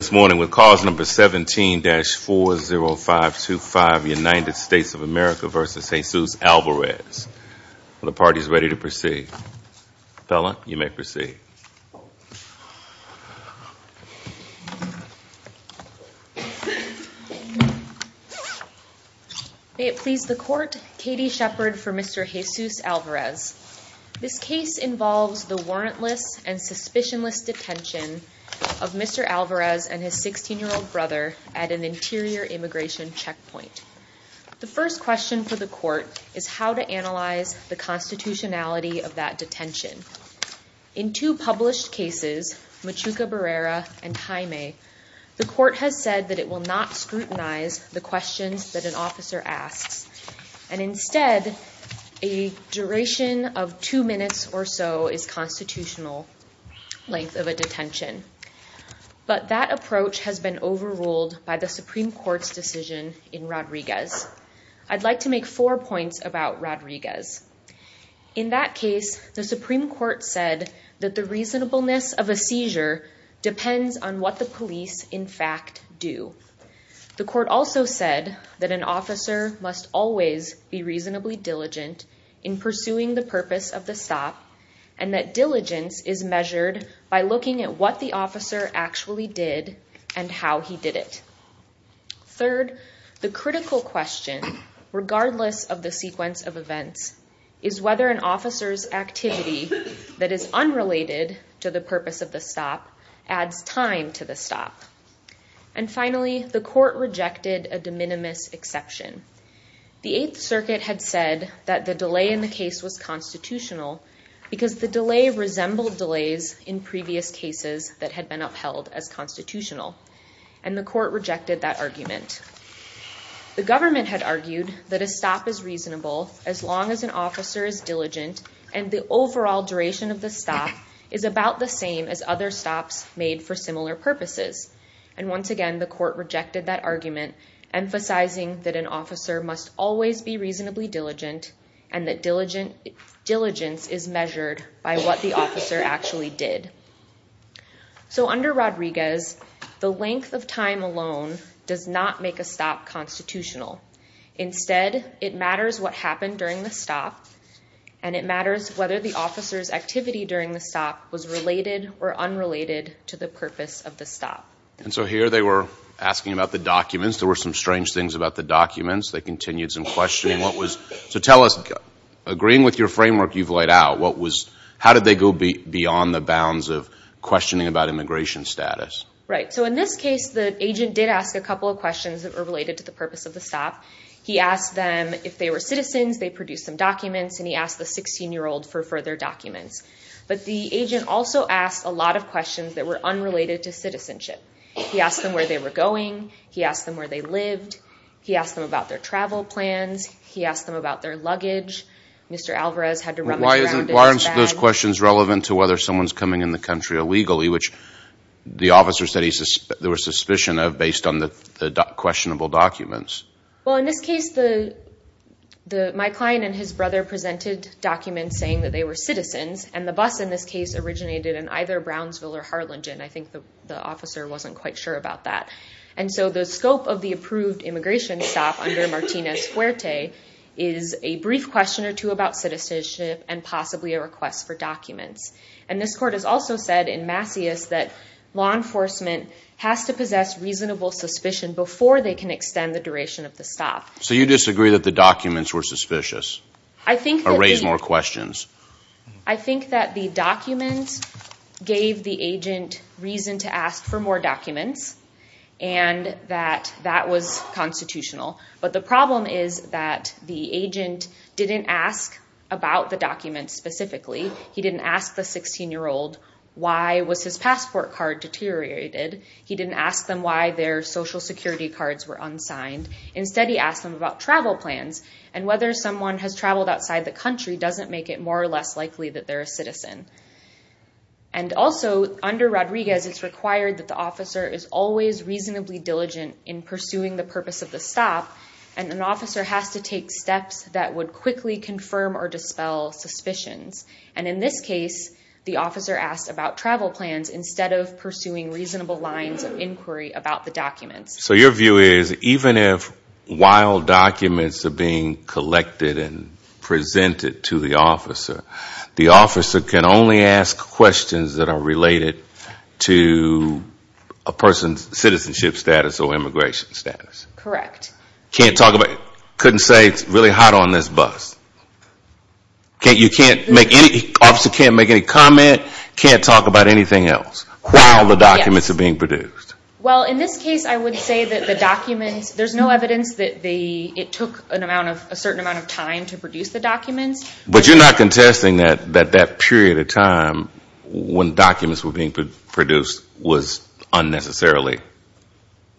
This morning with cause number 17-40525, United States of America v. Jesus Alvarez. The party is ready to proceed. Bella, you may proceed. May it please the court, Katie Shepherd for Mr. Jesus Alvarez. This case involves the warrantless and suspicionless detention of Mr. Alvarez and his 16-year-old brother at an interior immigration checkpoint. The first question for the court is how to analyze the constitutionality of that detention. In two published cases, Machuca Barrera and Jaime, the court has said that it will not scrutinize the questions that an officer asks. And instead, a duration of two minutes or so is constitutional length of a detention. But that approach has been overruled by the Supreme Court's decision in Rodriguez. I'd like to make four points about Rodriguez. In that case, the Supreme Court said that the reasonableness of a seizure depends on what the police in fact do. The court also said that an officer must always be reasonably diligent in pursuing the purpose of the stop and that diligence is measured by looking at what the officer actually did and how he did it. Third, the critical question, regardless of the sequence of events, is whether an officer's activity that is unrelated to the purpose of the stop adds time to the stop. And finally, the court rejected a de minimis exception. The Eighth Circuit had said that the delay in the case was constitutional because the delay resembled delays in previous cases that had been upheld as constitutional. And the court rejected that argument. The government had argued that a stop is reasonable as long as an officer is diligent and the overall duration of the stop is about the same as other stops made for similar purposes. And once again, the court rejected that argument, emphasizing that an officer must always be reasonably diligent and that diligence is measured by what the officer actually did. So under Rodriguez, the length of time alone does not make a stop constitutional. Instead, it matters what happened during the stop and it matters whether the officer's activity during the stop was related or unrelated to the purpose of the stop. And so here they were asking about the documents. There were some strange things about the documents. They continued some questioning. So tell us, agreeing with your framework you've laid out, how did they go beyond the bounds of questioning about immigration status? Right. So in this case, the agent did ask a couple of questions that were related to the purpose of the stop. He asked them if they were citizens, they produced some documents, and he asked the 16-year-old for further documents. But the agent also asked a lot of questions that were unrelated to citizenship. He asked them where they were going. He asked them where they lived. He asked them about their travel plans. He asked them about their luggage. Mr. Alvarez had to rummage around in his bag. Why aren't those questions relevant to whether someone's coming in the country illegally, which the officer said there was suspicion of based on the questionable documents? Well, in this case, my client and his brother presented documents saying that they were citizens. And the bus, in this case, originated in either Brownsville or Harlingen. I think the officer wasn't quite sure about that. And so the scope of the approved immigration stop under Martinez-Fuerte is a brief question or two about citizenship and possibly a request for documents. And this court has also said in Masseus that law enforcement has to possess reasonable suspicion before they can extend the duration of the stop. So you disagree that the documents were suspicious? I think that... Or raise more questions? I think that the documents gave the agent reason to ask for more documents and that that was constitutional. But the problem is that the agent didn't ask about the documents specifically. He didn't ask the 16-year-old why was his passport card deteriorated. He didn't ask them why their Social Security cards were unsigned. Instead, he asked them about travel plans. And whether someone has traveled outside the country doesn't make it more or less likely that they're a citizen. And also, under Rodriguez, it's required that the officer is always reasonably diligent in pursuing the purpose of the stop. And an officer has to take steps that would quickly confirm or dispel suspicions. And in this case, the officer asked about travel plans instead of pursuing reasonable lines of inquiry about the documents. So your view is even if wild documents are being collected and presented to the officer, the officer can only ask questions that are related to a person's citizenship status or immigration status. Correct. Can't talk about... Couldn't say it's really hot on this bus. You can't make any... Officer can't make any comment, can't talk about anything else while the documents are being produced. Well, in this case, I would say that the documents... There's no evidence that it took a certain amount of time to produce the documents. But you're not contesting that that period of time when documents were being produced was unnecessarily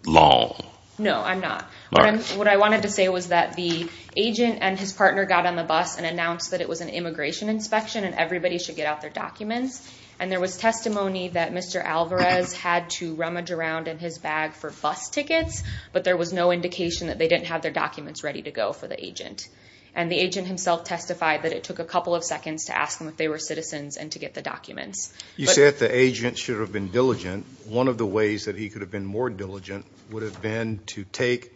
long. No, I'm not. What I wanted to say was that the agent and his partner got on the bus and announced that it was an immigration inspection and everybody should get out their documents. And there was testimony that Mr. Alvarez had to rummage around in his bag for bus tickets, but there was no indication that they didn't have their documents ready to go for the agent. And the agent himself testified that it took a couple of seconds to ask them if they were citizens and to get the documents. You said the agent should have been diligent. One of the ways that he could have been more diligent would have been to take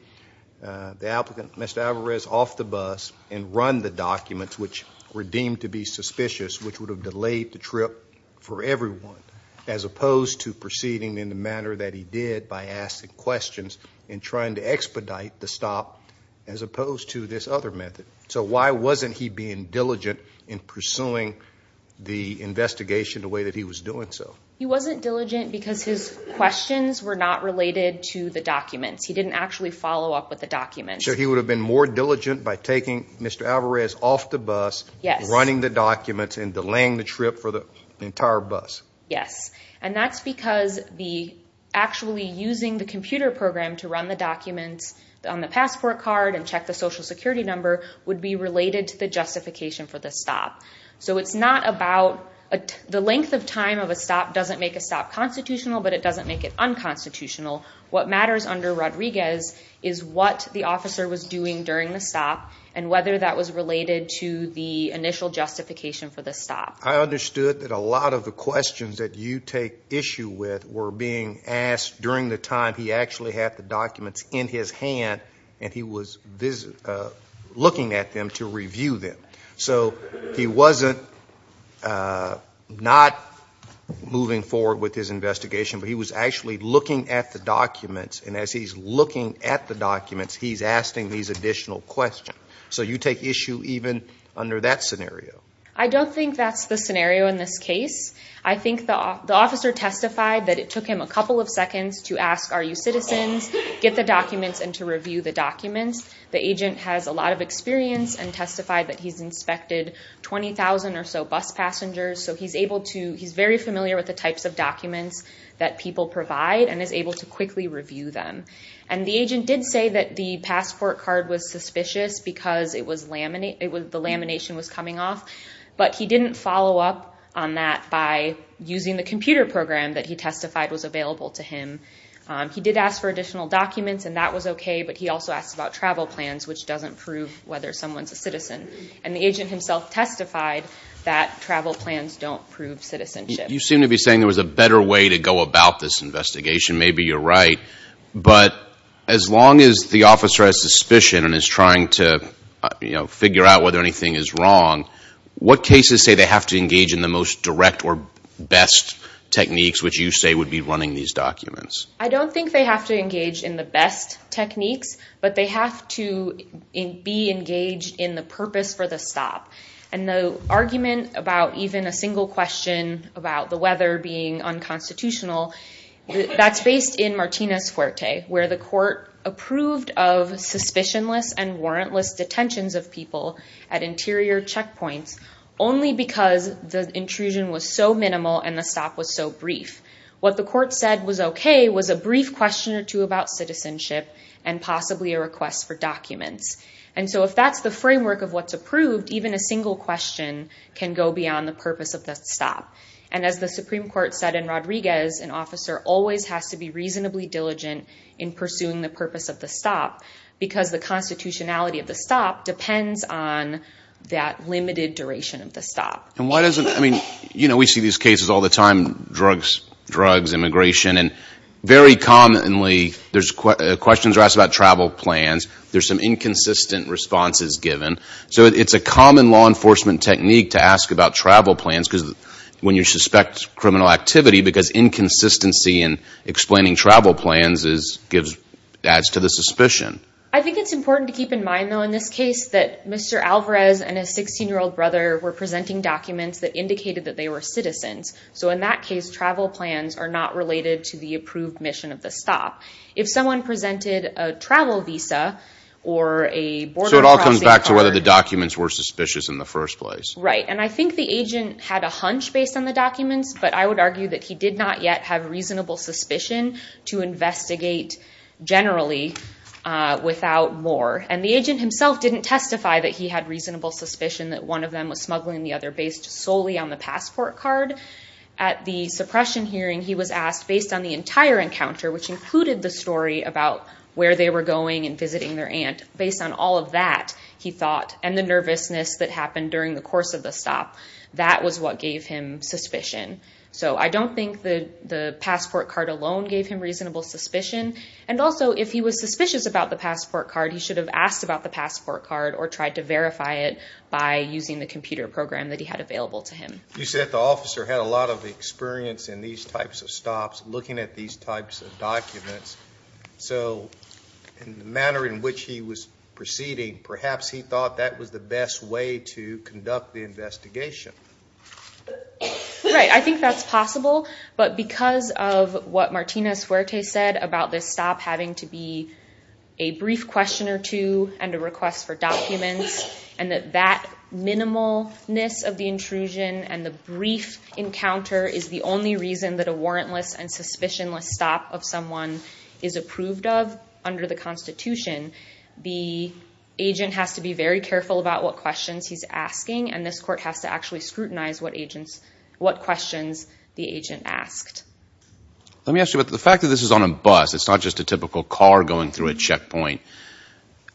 the applicant, Mr. Alvarez, off the bus and run the documents, which were deemed to be suspicious, which would have delayed the trip for everyone, as opposed to proceeding in the manner that he did by asking questions and trying to expedite the stop, as opposed to this other method. So why wasn't he being diligent in pursuing the investigation the way that he was doing so? He wasn't diligent because his questions were not related to the documents. He didn't actually follow up with the documents. So he would have been more diligent by taking Mr. Alvarez off the bus, running the documents and delaying the trip for the entire bus. Yes. And that's because the actually using the computer program to run the documents on the passport card and check the Social Security number would be related to the justification for the stop. So it's not about the length of time of a stop doesn't make a stop constitutional, but it doesn't make it unconstitutional. What matters under Rodriguez is what the officer was doing during the stop and whether that was related to the initial justification for the stop. I understood that a lot of the questions that you take issue with were being asked during the time he actually had the documents in his hand and he was looking at them to review them. So he wasn't not moving forward with his investigation, but he was actually looking at the documents and as he's looking at the documents, he's asking these additional questions. So you take issue even under that scenario. I don't think that's the scenario in this case. I think the officer testified that it took him a couple of seconds to ask, are you citizens, get the documents and to review the documents. The agent has a lot of experience and testified that he's inspected 20,000 or so bus passengers. So he's able to he's very familiar with the types of documents that people provide and is able to quickly review them. And the agent did say that the passport card was suspicious because it was laminate. It was the lamination was coming off. But he didn't follow up on that by using the computer program that he testified was available to him. He did ask for additional documents and that was OK, but he also asked about travel plans, which doesn't prove whether someone's a citizen. And the agent himself testified that travel plans don't prove citizenship. You seem to be saying there was a better way to go about this investigation. Maybe you're right. But as long as the officer has suspicion and is trying to figure out whether anything is wrong, what cases say they have to engage in the most direct or best techniques which you say would be running these documents? I don't think they have to engage in the best techniques, but they have to be engaged in the purpose for the stop. And the argument about even a single question about the weather being unconstitutional, that's based in Martinez Fuerte, where the court approved of suspicionless and warrantless detentions of people at interior checkpoints only because the intrusion was so minimal and the stop was so brief. What the court said was OK was a brief question or two about citizenship and possibly a request for documents. And so if that's the framework of what's approved, even a single question can go beyond the purpose of that stop. And as the Supreme Court said in Rodriguez, an officer always has to be reasonably diligent in pursuing the purpose of the stop because the constitutionality of the stop depends on that limited duration of the stop. And why doesn't, I mean, you know, we see these cases all the time, drugs, drugs, immigration, and very commonly there's questions are asked about travel plans. There's some inconsistent responses given. So it's a common law enforcement technique to ask about travel plans because when you suspect criminal activity, because inconsistency in explaining travel plans is gives, adds to the suspicion. I think it's important to keep in mind, though, in this case that Mr. Alvarez and his 16-year-old brother were presenting documents that indicated that they were citizens. So in that case, travel plans are not related to the approved mission of the stop. If someone presented a travel visa or a border crossing card. So it all comes back to whether the documents were suspicious in the first place. Right. And I think the agent had a hunch based on the documents, but I would argue that he did not yet have reasonable suspicion to investigate generally. Without more. And the agent himself didn't testify that he had reasonable suspicion that one of them was smuggling the other based solely on the passport card. At the suppression hearing, he was asked based on the entire encounter, which included the story about where they were going and visiting their aunt. Based on all of that, he thought, and the nervousness that happened during the course of the stop, that was what gave him suspicion. So I don't think that the passport card alone gave him reasonable suspicion. And also, if he was suspicious about the passport card, he should have asked about the passport card or tried to verify it by using the computer program that he had available to him. You said the officer had a lot of experience in these types of stops, looking at these types of documents. So in the manner in which he was proceeding, perhaps he thought that was the best way to conduct the investigation. Right. I think that's possible. But because of what Martinez-Fuerte said about this stop having to be a brief question or two and a request for documents and that that minimalness of the intrusion and the brief encounter is the only reason that a warrantless and suspicionless stop of someone is approved of under the Constitution, the agent has to be very careful about what questions he's asking. And this court has to actually scrutinize what agents, what questions the agent asked. Let me ask you about the fact that this is on a bus. It's not just a typical car going through a checkpoint.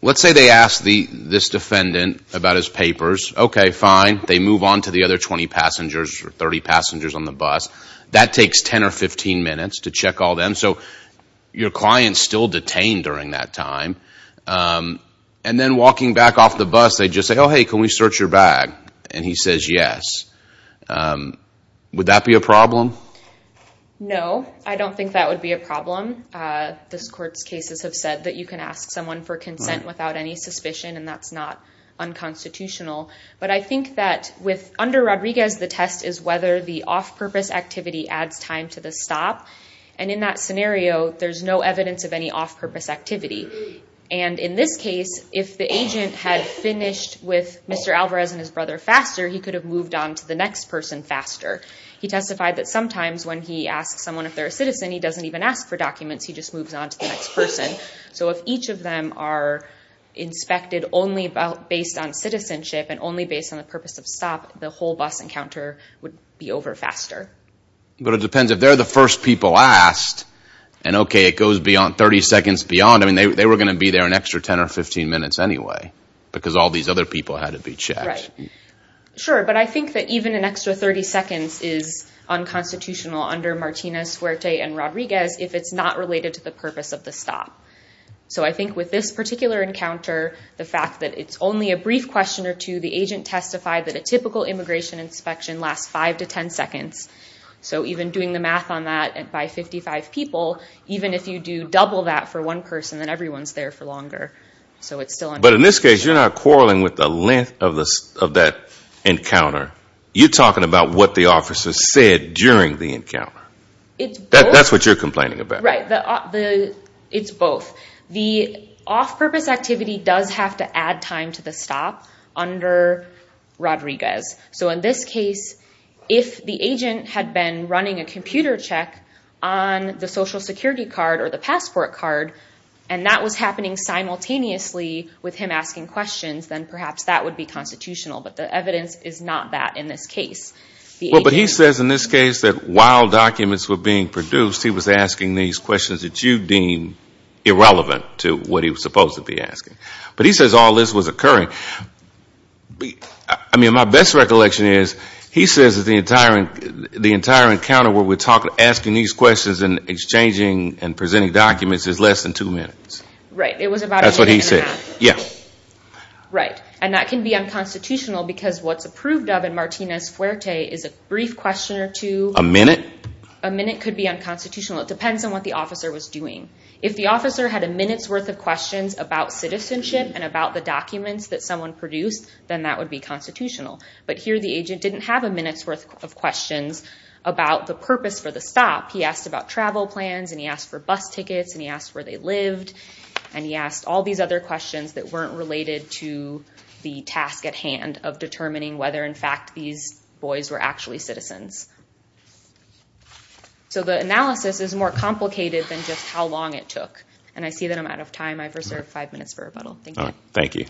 Let's say they ask this defendant about his papers. Okay, fine. They move on to the other 20 passengers or 30 passengers on the bus. That takes 10 or 15 minutes to check all them. So your client's still detained during that time. And then walking back off the bus, they just say, oh, hey, can we search your bag? And he says, yes. Would that be a problem? No, I don't think that would be a problem. This court's cases have said that you can ask someone for consent without any suspicion, and that's not unconstitutional. But I think that under Rodriguez, the test is whether the off-purpose activity adds time to the stop. And in that scenario, there's no evidence of any off-purpose activity. And in this case, if the agent had finished with Mr. Alvarez and his brother faster, he could have moved on to the next person faster. He testified that sometimes when he asks someone if they're a citizen, he doesn't even ask for documents. He just moves on to the next person. So if each of them are inspected only based on citizenship and only based on the purpose of stop, the whole bus encounter would be over faster. But it depends if they're the first people asked. And okay, it goes beyond 30 seconds beyond. I mean, they were going to be there an extra 10 or 15 minutes anyway, because all these other people had to be checked. Sure, but I think that even an extra 30 seconds is unconstitutional under Martinez, Fuerte, and Rodriguez if it's not related to the purpose of the stop. So I think with this particular encounter, the fact that it's only a brief question or two, the agent testified that a typical immigration inspection lasts five to 10 seconds. So even doing the math on that by 55 people, even if you do double that for one person, then everyone's there for longer. So it's still... But in this case, you're not quarreling with the length of that encounter. You're talking about what the officer said during the encounter. That's what you're complaining about. Right. It's both. The off-purpose activity does have to add time to the stop under Rodriguez. So in this case, if the agent had been running a computer check on the social security card or the passport card, and that was happening simultaneously with him asking questions, then perhaps that would be constitutional. But the evidence is not that in this case. But he says in this case that while documents were being produced, he was asking these questions that you deem irrelevant to what he was supposed to be asking. But he says all this was occurring. I mean, my best recollection is he says that the entire encounter where we're talking, asking these questions and exchanging and presenting documents is less than two minutes. Right. It was about a minute and a half. That's what he said. Yeah. Right. And that can be unconstitutional because what's approved of in Martinez-Fuerte is a brief question or two. A minute? A minute could be unconstitutional. It depends on what the officer was doing. If the officer had a minute's worth of questions about citizenship and about the documents that someone produced, then that would be constitutional. But here, the agent didn't have a minute's worth of questions about the purpose for the stop. He asked about travel plans and he asked for bus tickets and he asked where they lived. And he asked all these other questions that weren't related to the task at hand of determining whether, in fact, these boys were actually citizens. So the analysis is more complicated than just how long it took. And I see that I'm out of time. I've reserved five minutes for rebuttal. Thank you. Thank you.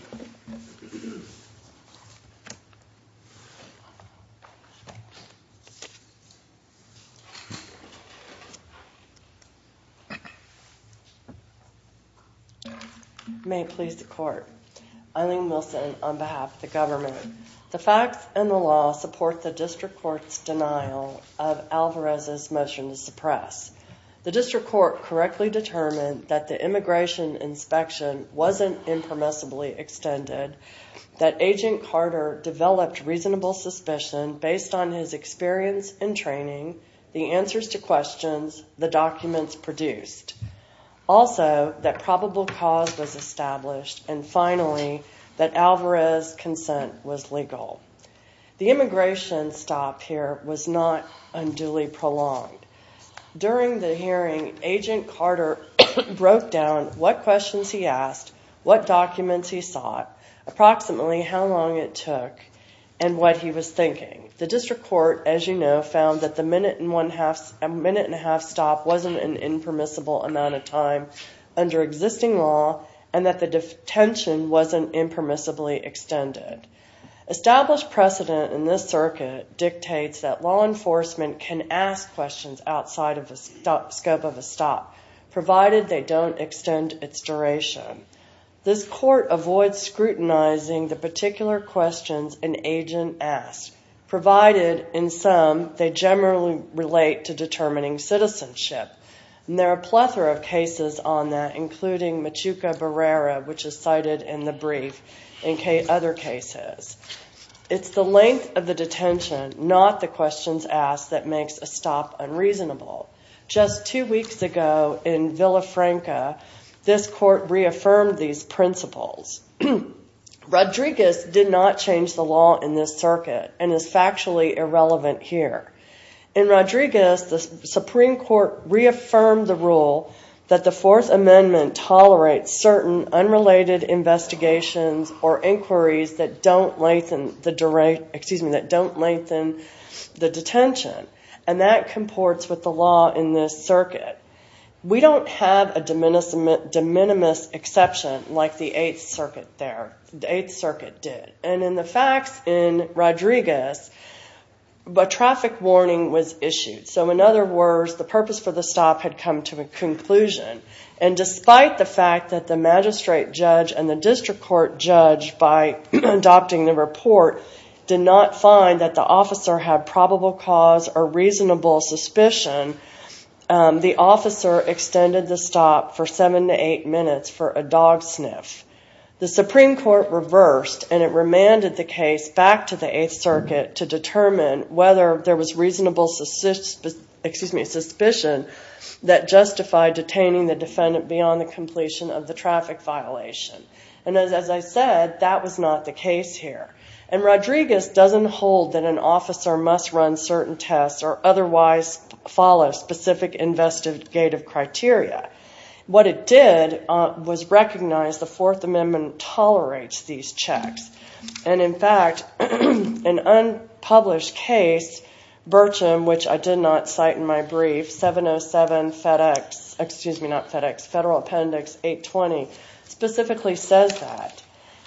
May it please the court. Eileen Wilson on behalf of the government. The facts and the law support the district court's denial of Alvarez's motion to suppress. The district court correctly determined that the immigration inspection wasn't impermissibly extended, that Agent Carter developed reasonable suspicion based on his experience and training, the answers to questions, the documents produced. Also, that probable cause was established. And finally, that Alvarez's consent was legal. The immigration stop here was not unduly prolonged. During the hearing, Agent Carter broke down what questions he asked, what documents he sought, approximately how long it took, and what he was thinking. The district court, as you know, found that the minute and a half stop wasn't an impermissible amount of time under existing law and that the detention wasn't impermissibly extended. Established precedent in this circuit dictates that law enforcement can ask questions outside of the scope of a stop, provided they don't extend its duration. This court avoids scrutinizing the particular questions an agent asked. Provided, in sum, they generally relate to determining citizenship, and there are a plethora of cases on that, including Machuca Barrera, which is cited in the brief, and other cases. It's the length of the detention, not the questions asked, that makes a stop unreasonable. Just two weeks ago in Villafranca, this court reaffirmed these principles. Rodriguez did not change the law in this circuit, and is factually irrelevant here. In Rodriguez, the Supreme Court reaffirmed the rule that the Fourth Amendment tolerates certain unrelated investigations or inquiries that don't lengthen the detention, and that comports with the law in this circuit. We don't have a de minimis exception like the Eighth Circuit did. And in the facts in Rodriguez, a traffic warning was issued. So in other words, the purpose for the stop had come to a conclusion. And despite the fact that the magistrate judge and the district court judge, by adopting the report, did not find that the officer had probable cause or reasonable suspicion, the officer extended the stop for seven to eight minutes for a dog sniff. The Supreme Court reversed, and it remanded the case back to the Eighth Circuit to determine whether there was reasonable suspicion that justified detaining the defendant beyond the completion of the traffic violation. And as I said, that was not the case here. And Rodriguez doesn't hold that an officer must run certain tests or otherwise follow specific investigative criteria. What it did was recognize the Fourth Amendment tolerates these checks. And in fact, an unpublished case, Bircham, which I did not cite in my brief, 707 FedEx, excuse me, not FedEx, Federal Appendix 820, specifically says that.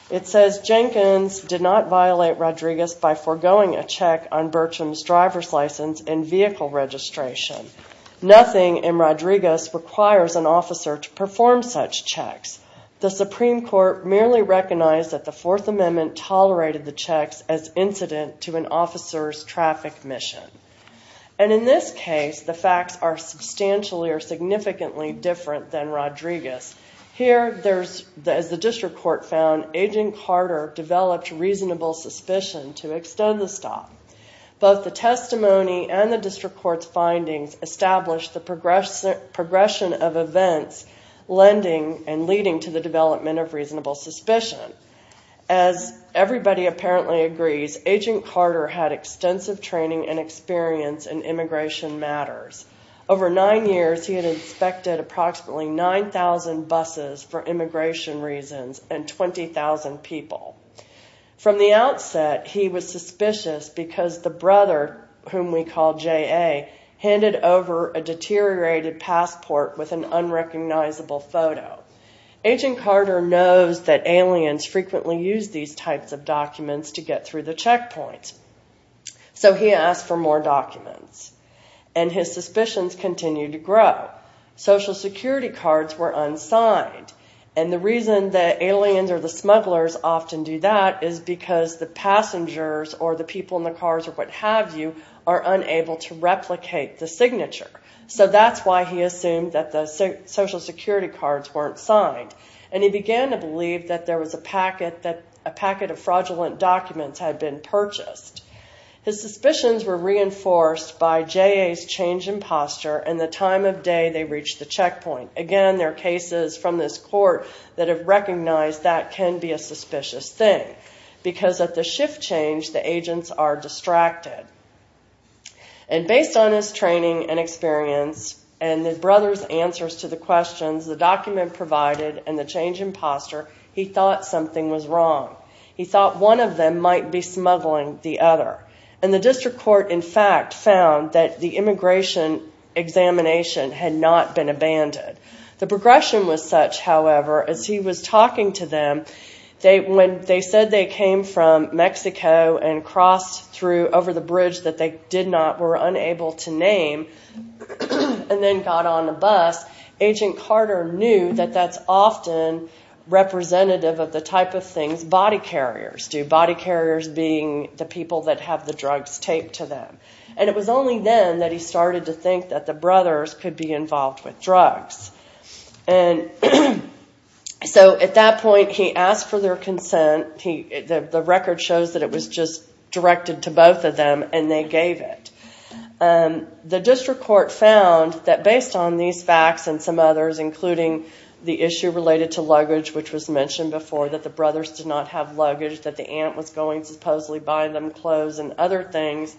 It says Jenkins did not violate Rodriguez by foregoing a check on Bircham's driver's license and vehicle registration. Nothing in Rodriguez requires an officer to perform such checks. The Supreme Court merely recognized that the Fourth Amendment tolerated the checks as incident to an officer's traffic mission. And in this case, the facts are substantially or significantly different than Rodriguez. Here, as the District Court found, Agent Carter developed reasonable suspicion to extend the stop. Both the testimony and the District Court's findings established the progression of events lending and leading to the development of reasonable suspicion. As everybody apparently agrees, Agent Carter had extensive training and experience in immigration matters. Over nine years, he had inspected approximately 9,000 buses for immigration reasons and 20,000 people. From the outset, he was suspicious because the brother, whom we call J.A., handed over a deteriorated passport with an unrecognizable photo. Agent Carter knows that aliens frequently use these types of documents to get through the checkpoints, so he asked for more documents. And his suspicions continued to grow. Social security cards were unsigned, and the reason that aliens or the smugglers often do that is because the passengers or the people in the cars or what have you are unable to replicate the signature. So that's why he assumed that the social security cards weren't signed. And he began to believe that there was a packet that a packet of fraudulent documents had been purchased. His suspicions were reinforced by J.A.'s change in posture and the time of day they reached the checkpoint. Again, there are cases from this court that have recognized that can be a suspicious thing, because at the shift change, the agents are distracted. And based on his training and experience and the brother's answers to the questions the document provided and the change in posture, he thought something was wrong. He thought one of them might be smuggling the other. And the district court, in fact, found that the immigration examination had not been abandoned. The progression was such, however, as he was talking to them, when they said they came from Mexico and crossed over the bridge that they were unable to name and then got on a bus, Agent Carter knew that that's often representative of the type of things body carriers do. Body carriers being the people that have the drugs taped to them. And it was only then that he started to think that the brothers could be involved with drugs. And so at that point, he asked for their consent. The record shows that it was just directed to both of them and they gave it. The district court found that based on these facts and some others, including the issue related to luggage, which was mentioned before, that the brothers did not have luggage, that the aunt was going supposedly to buy them clothes and other things,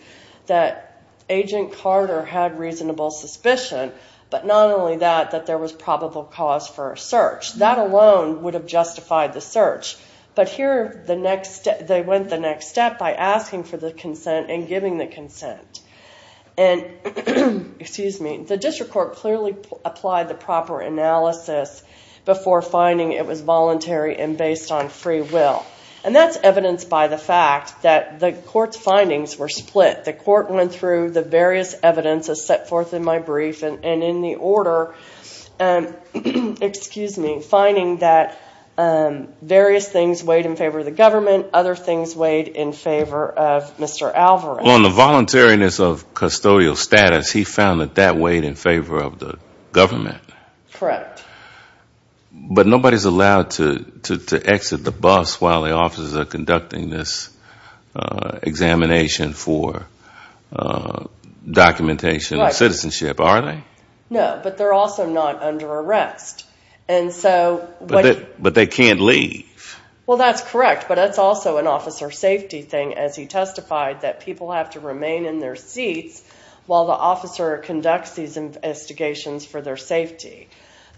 that Agent Carter had reasonable suspicion. But not only that, that there was probable cause for a search. That alone would have justified the search. But here, they went the next step by asking for the consent and giving the consent. And the district court clearly applied the proper analysis before finding it was voluntary and based on free will. And that's evidenced by the fact that the court's findings were split. The court went through the various evidences set forth in my brief and in the order, finding that various things weighed in favor of the government, other things weighed in favor of Mr. Alvarez. On the voluntariness of custodial status, he found that that weighed in favor of the government. Correct. But nobody's allowed to exit the bus while the officers are conducting this examination for documentation of citizenship, are they? No, but they're also not under arrest. And so... But they can't leave. Well, that's correct, but that's also an officer safety thing, as he testified, that people have to remain in their seats while the officer conducts these investigations for their safety.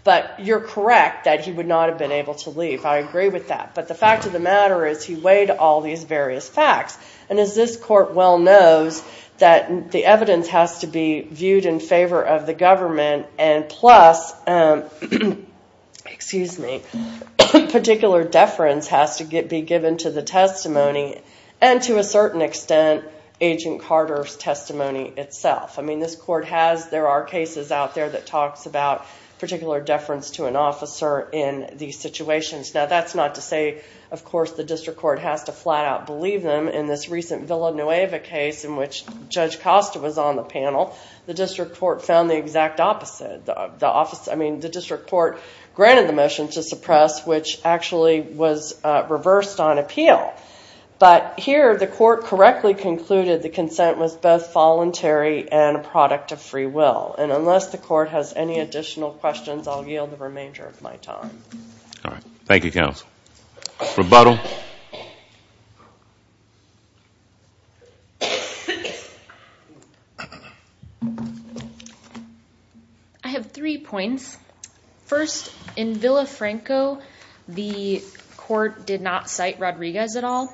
But you're correct that he would not have been able to leave. I agree with that. But the fact of the matter is he weighed all these various facts. And as this court well knows, that the evidence has to be viewed in favor of the government, and plus, particular deference has to be given to the testimony, and to a certain extent, Agent Carter's testimony itself. I mean, this court has, there are cases out there that talks about particular deference to an officer in these situations. Now, that's not to say, of course, the district court has to flat out believe them. In this recent Villanueva case, in which Judge Costa was on the panel, the district court found the exact opposite. The office, I mean, the district court granted the motion to suppress, which actually was reversed on appeal. But here, the court correctly concluded the consent was both voluntary and a product of free will. And unless the court has any additional questions, I'll yield the remainder of my time. All right, thank you, counsel. Rebuttal. I have three points. First, in Villafranco, the court did not cite Rodriguez at all.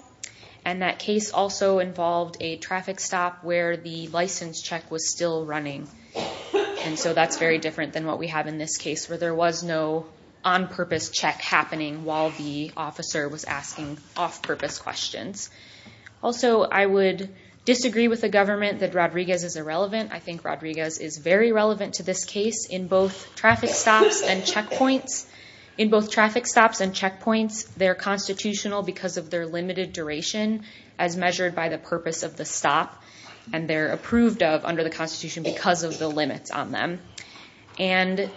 And that case also involved a traffic stop where the license check was still running. And so that's very different than what we have in this case where there was no on-purpose check happening while the officer was asking off-purpose questions. Also, I would disagree with the government that Rodriguez is irrelevant. I think Rodriguez is very relevant to this case in both traffic stops and checkpoints. In both traffic stops and checkpoints, they're constitutional because of their limited duration as measured by the purpose of the stop. And they're approved of under the Constitution because of the limits on them. And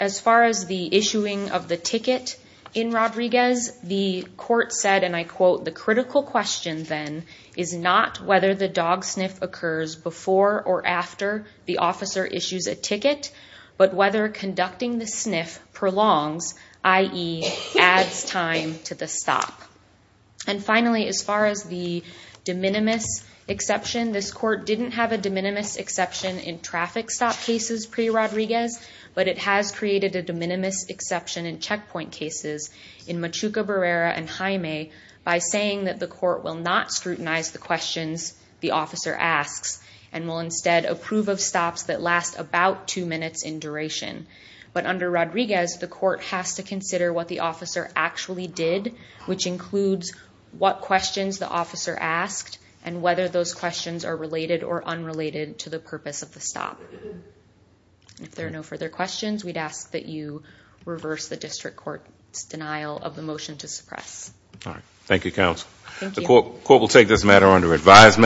as far as the issuing of the ticket in Rodriguez, the court said, and I quote, the critical question then is not whether the dog sniff occurs before or after the officer issues a ticket, but whether conducting the sniff prolongs, i.e. adds time to the stop. And finally, as far as the de minimis exception, this court didn't have a de minimis exception in traffic stop cases pre-Rodriguez, but it has created a de minimis exception in checkpoint cases in Machuca, Barrera, and Jaime by saying that the court will not scrutinize the questions the officer asks and will instead approve of stops that last about two minutes in duration. But under Rodriguez, the court has to consider what the officer actually did, which includes what questions the officer asked and whether those questions are related or unrelated to the purpose of the stop. If there are no further questions, we'd ask that you reverse the district court's denial of the motion to suppress. All right. Thank you, counsel. The court will take this matter under advisement.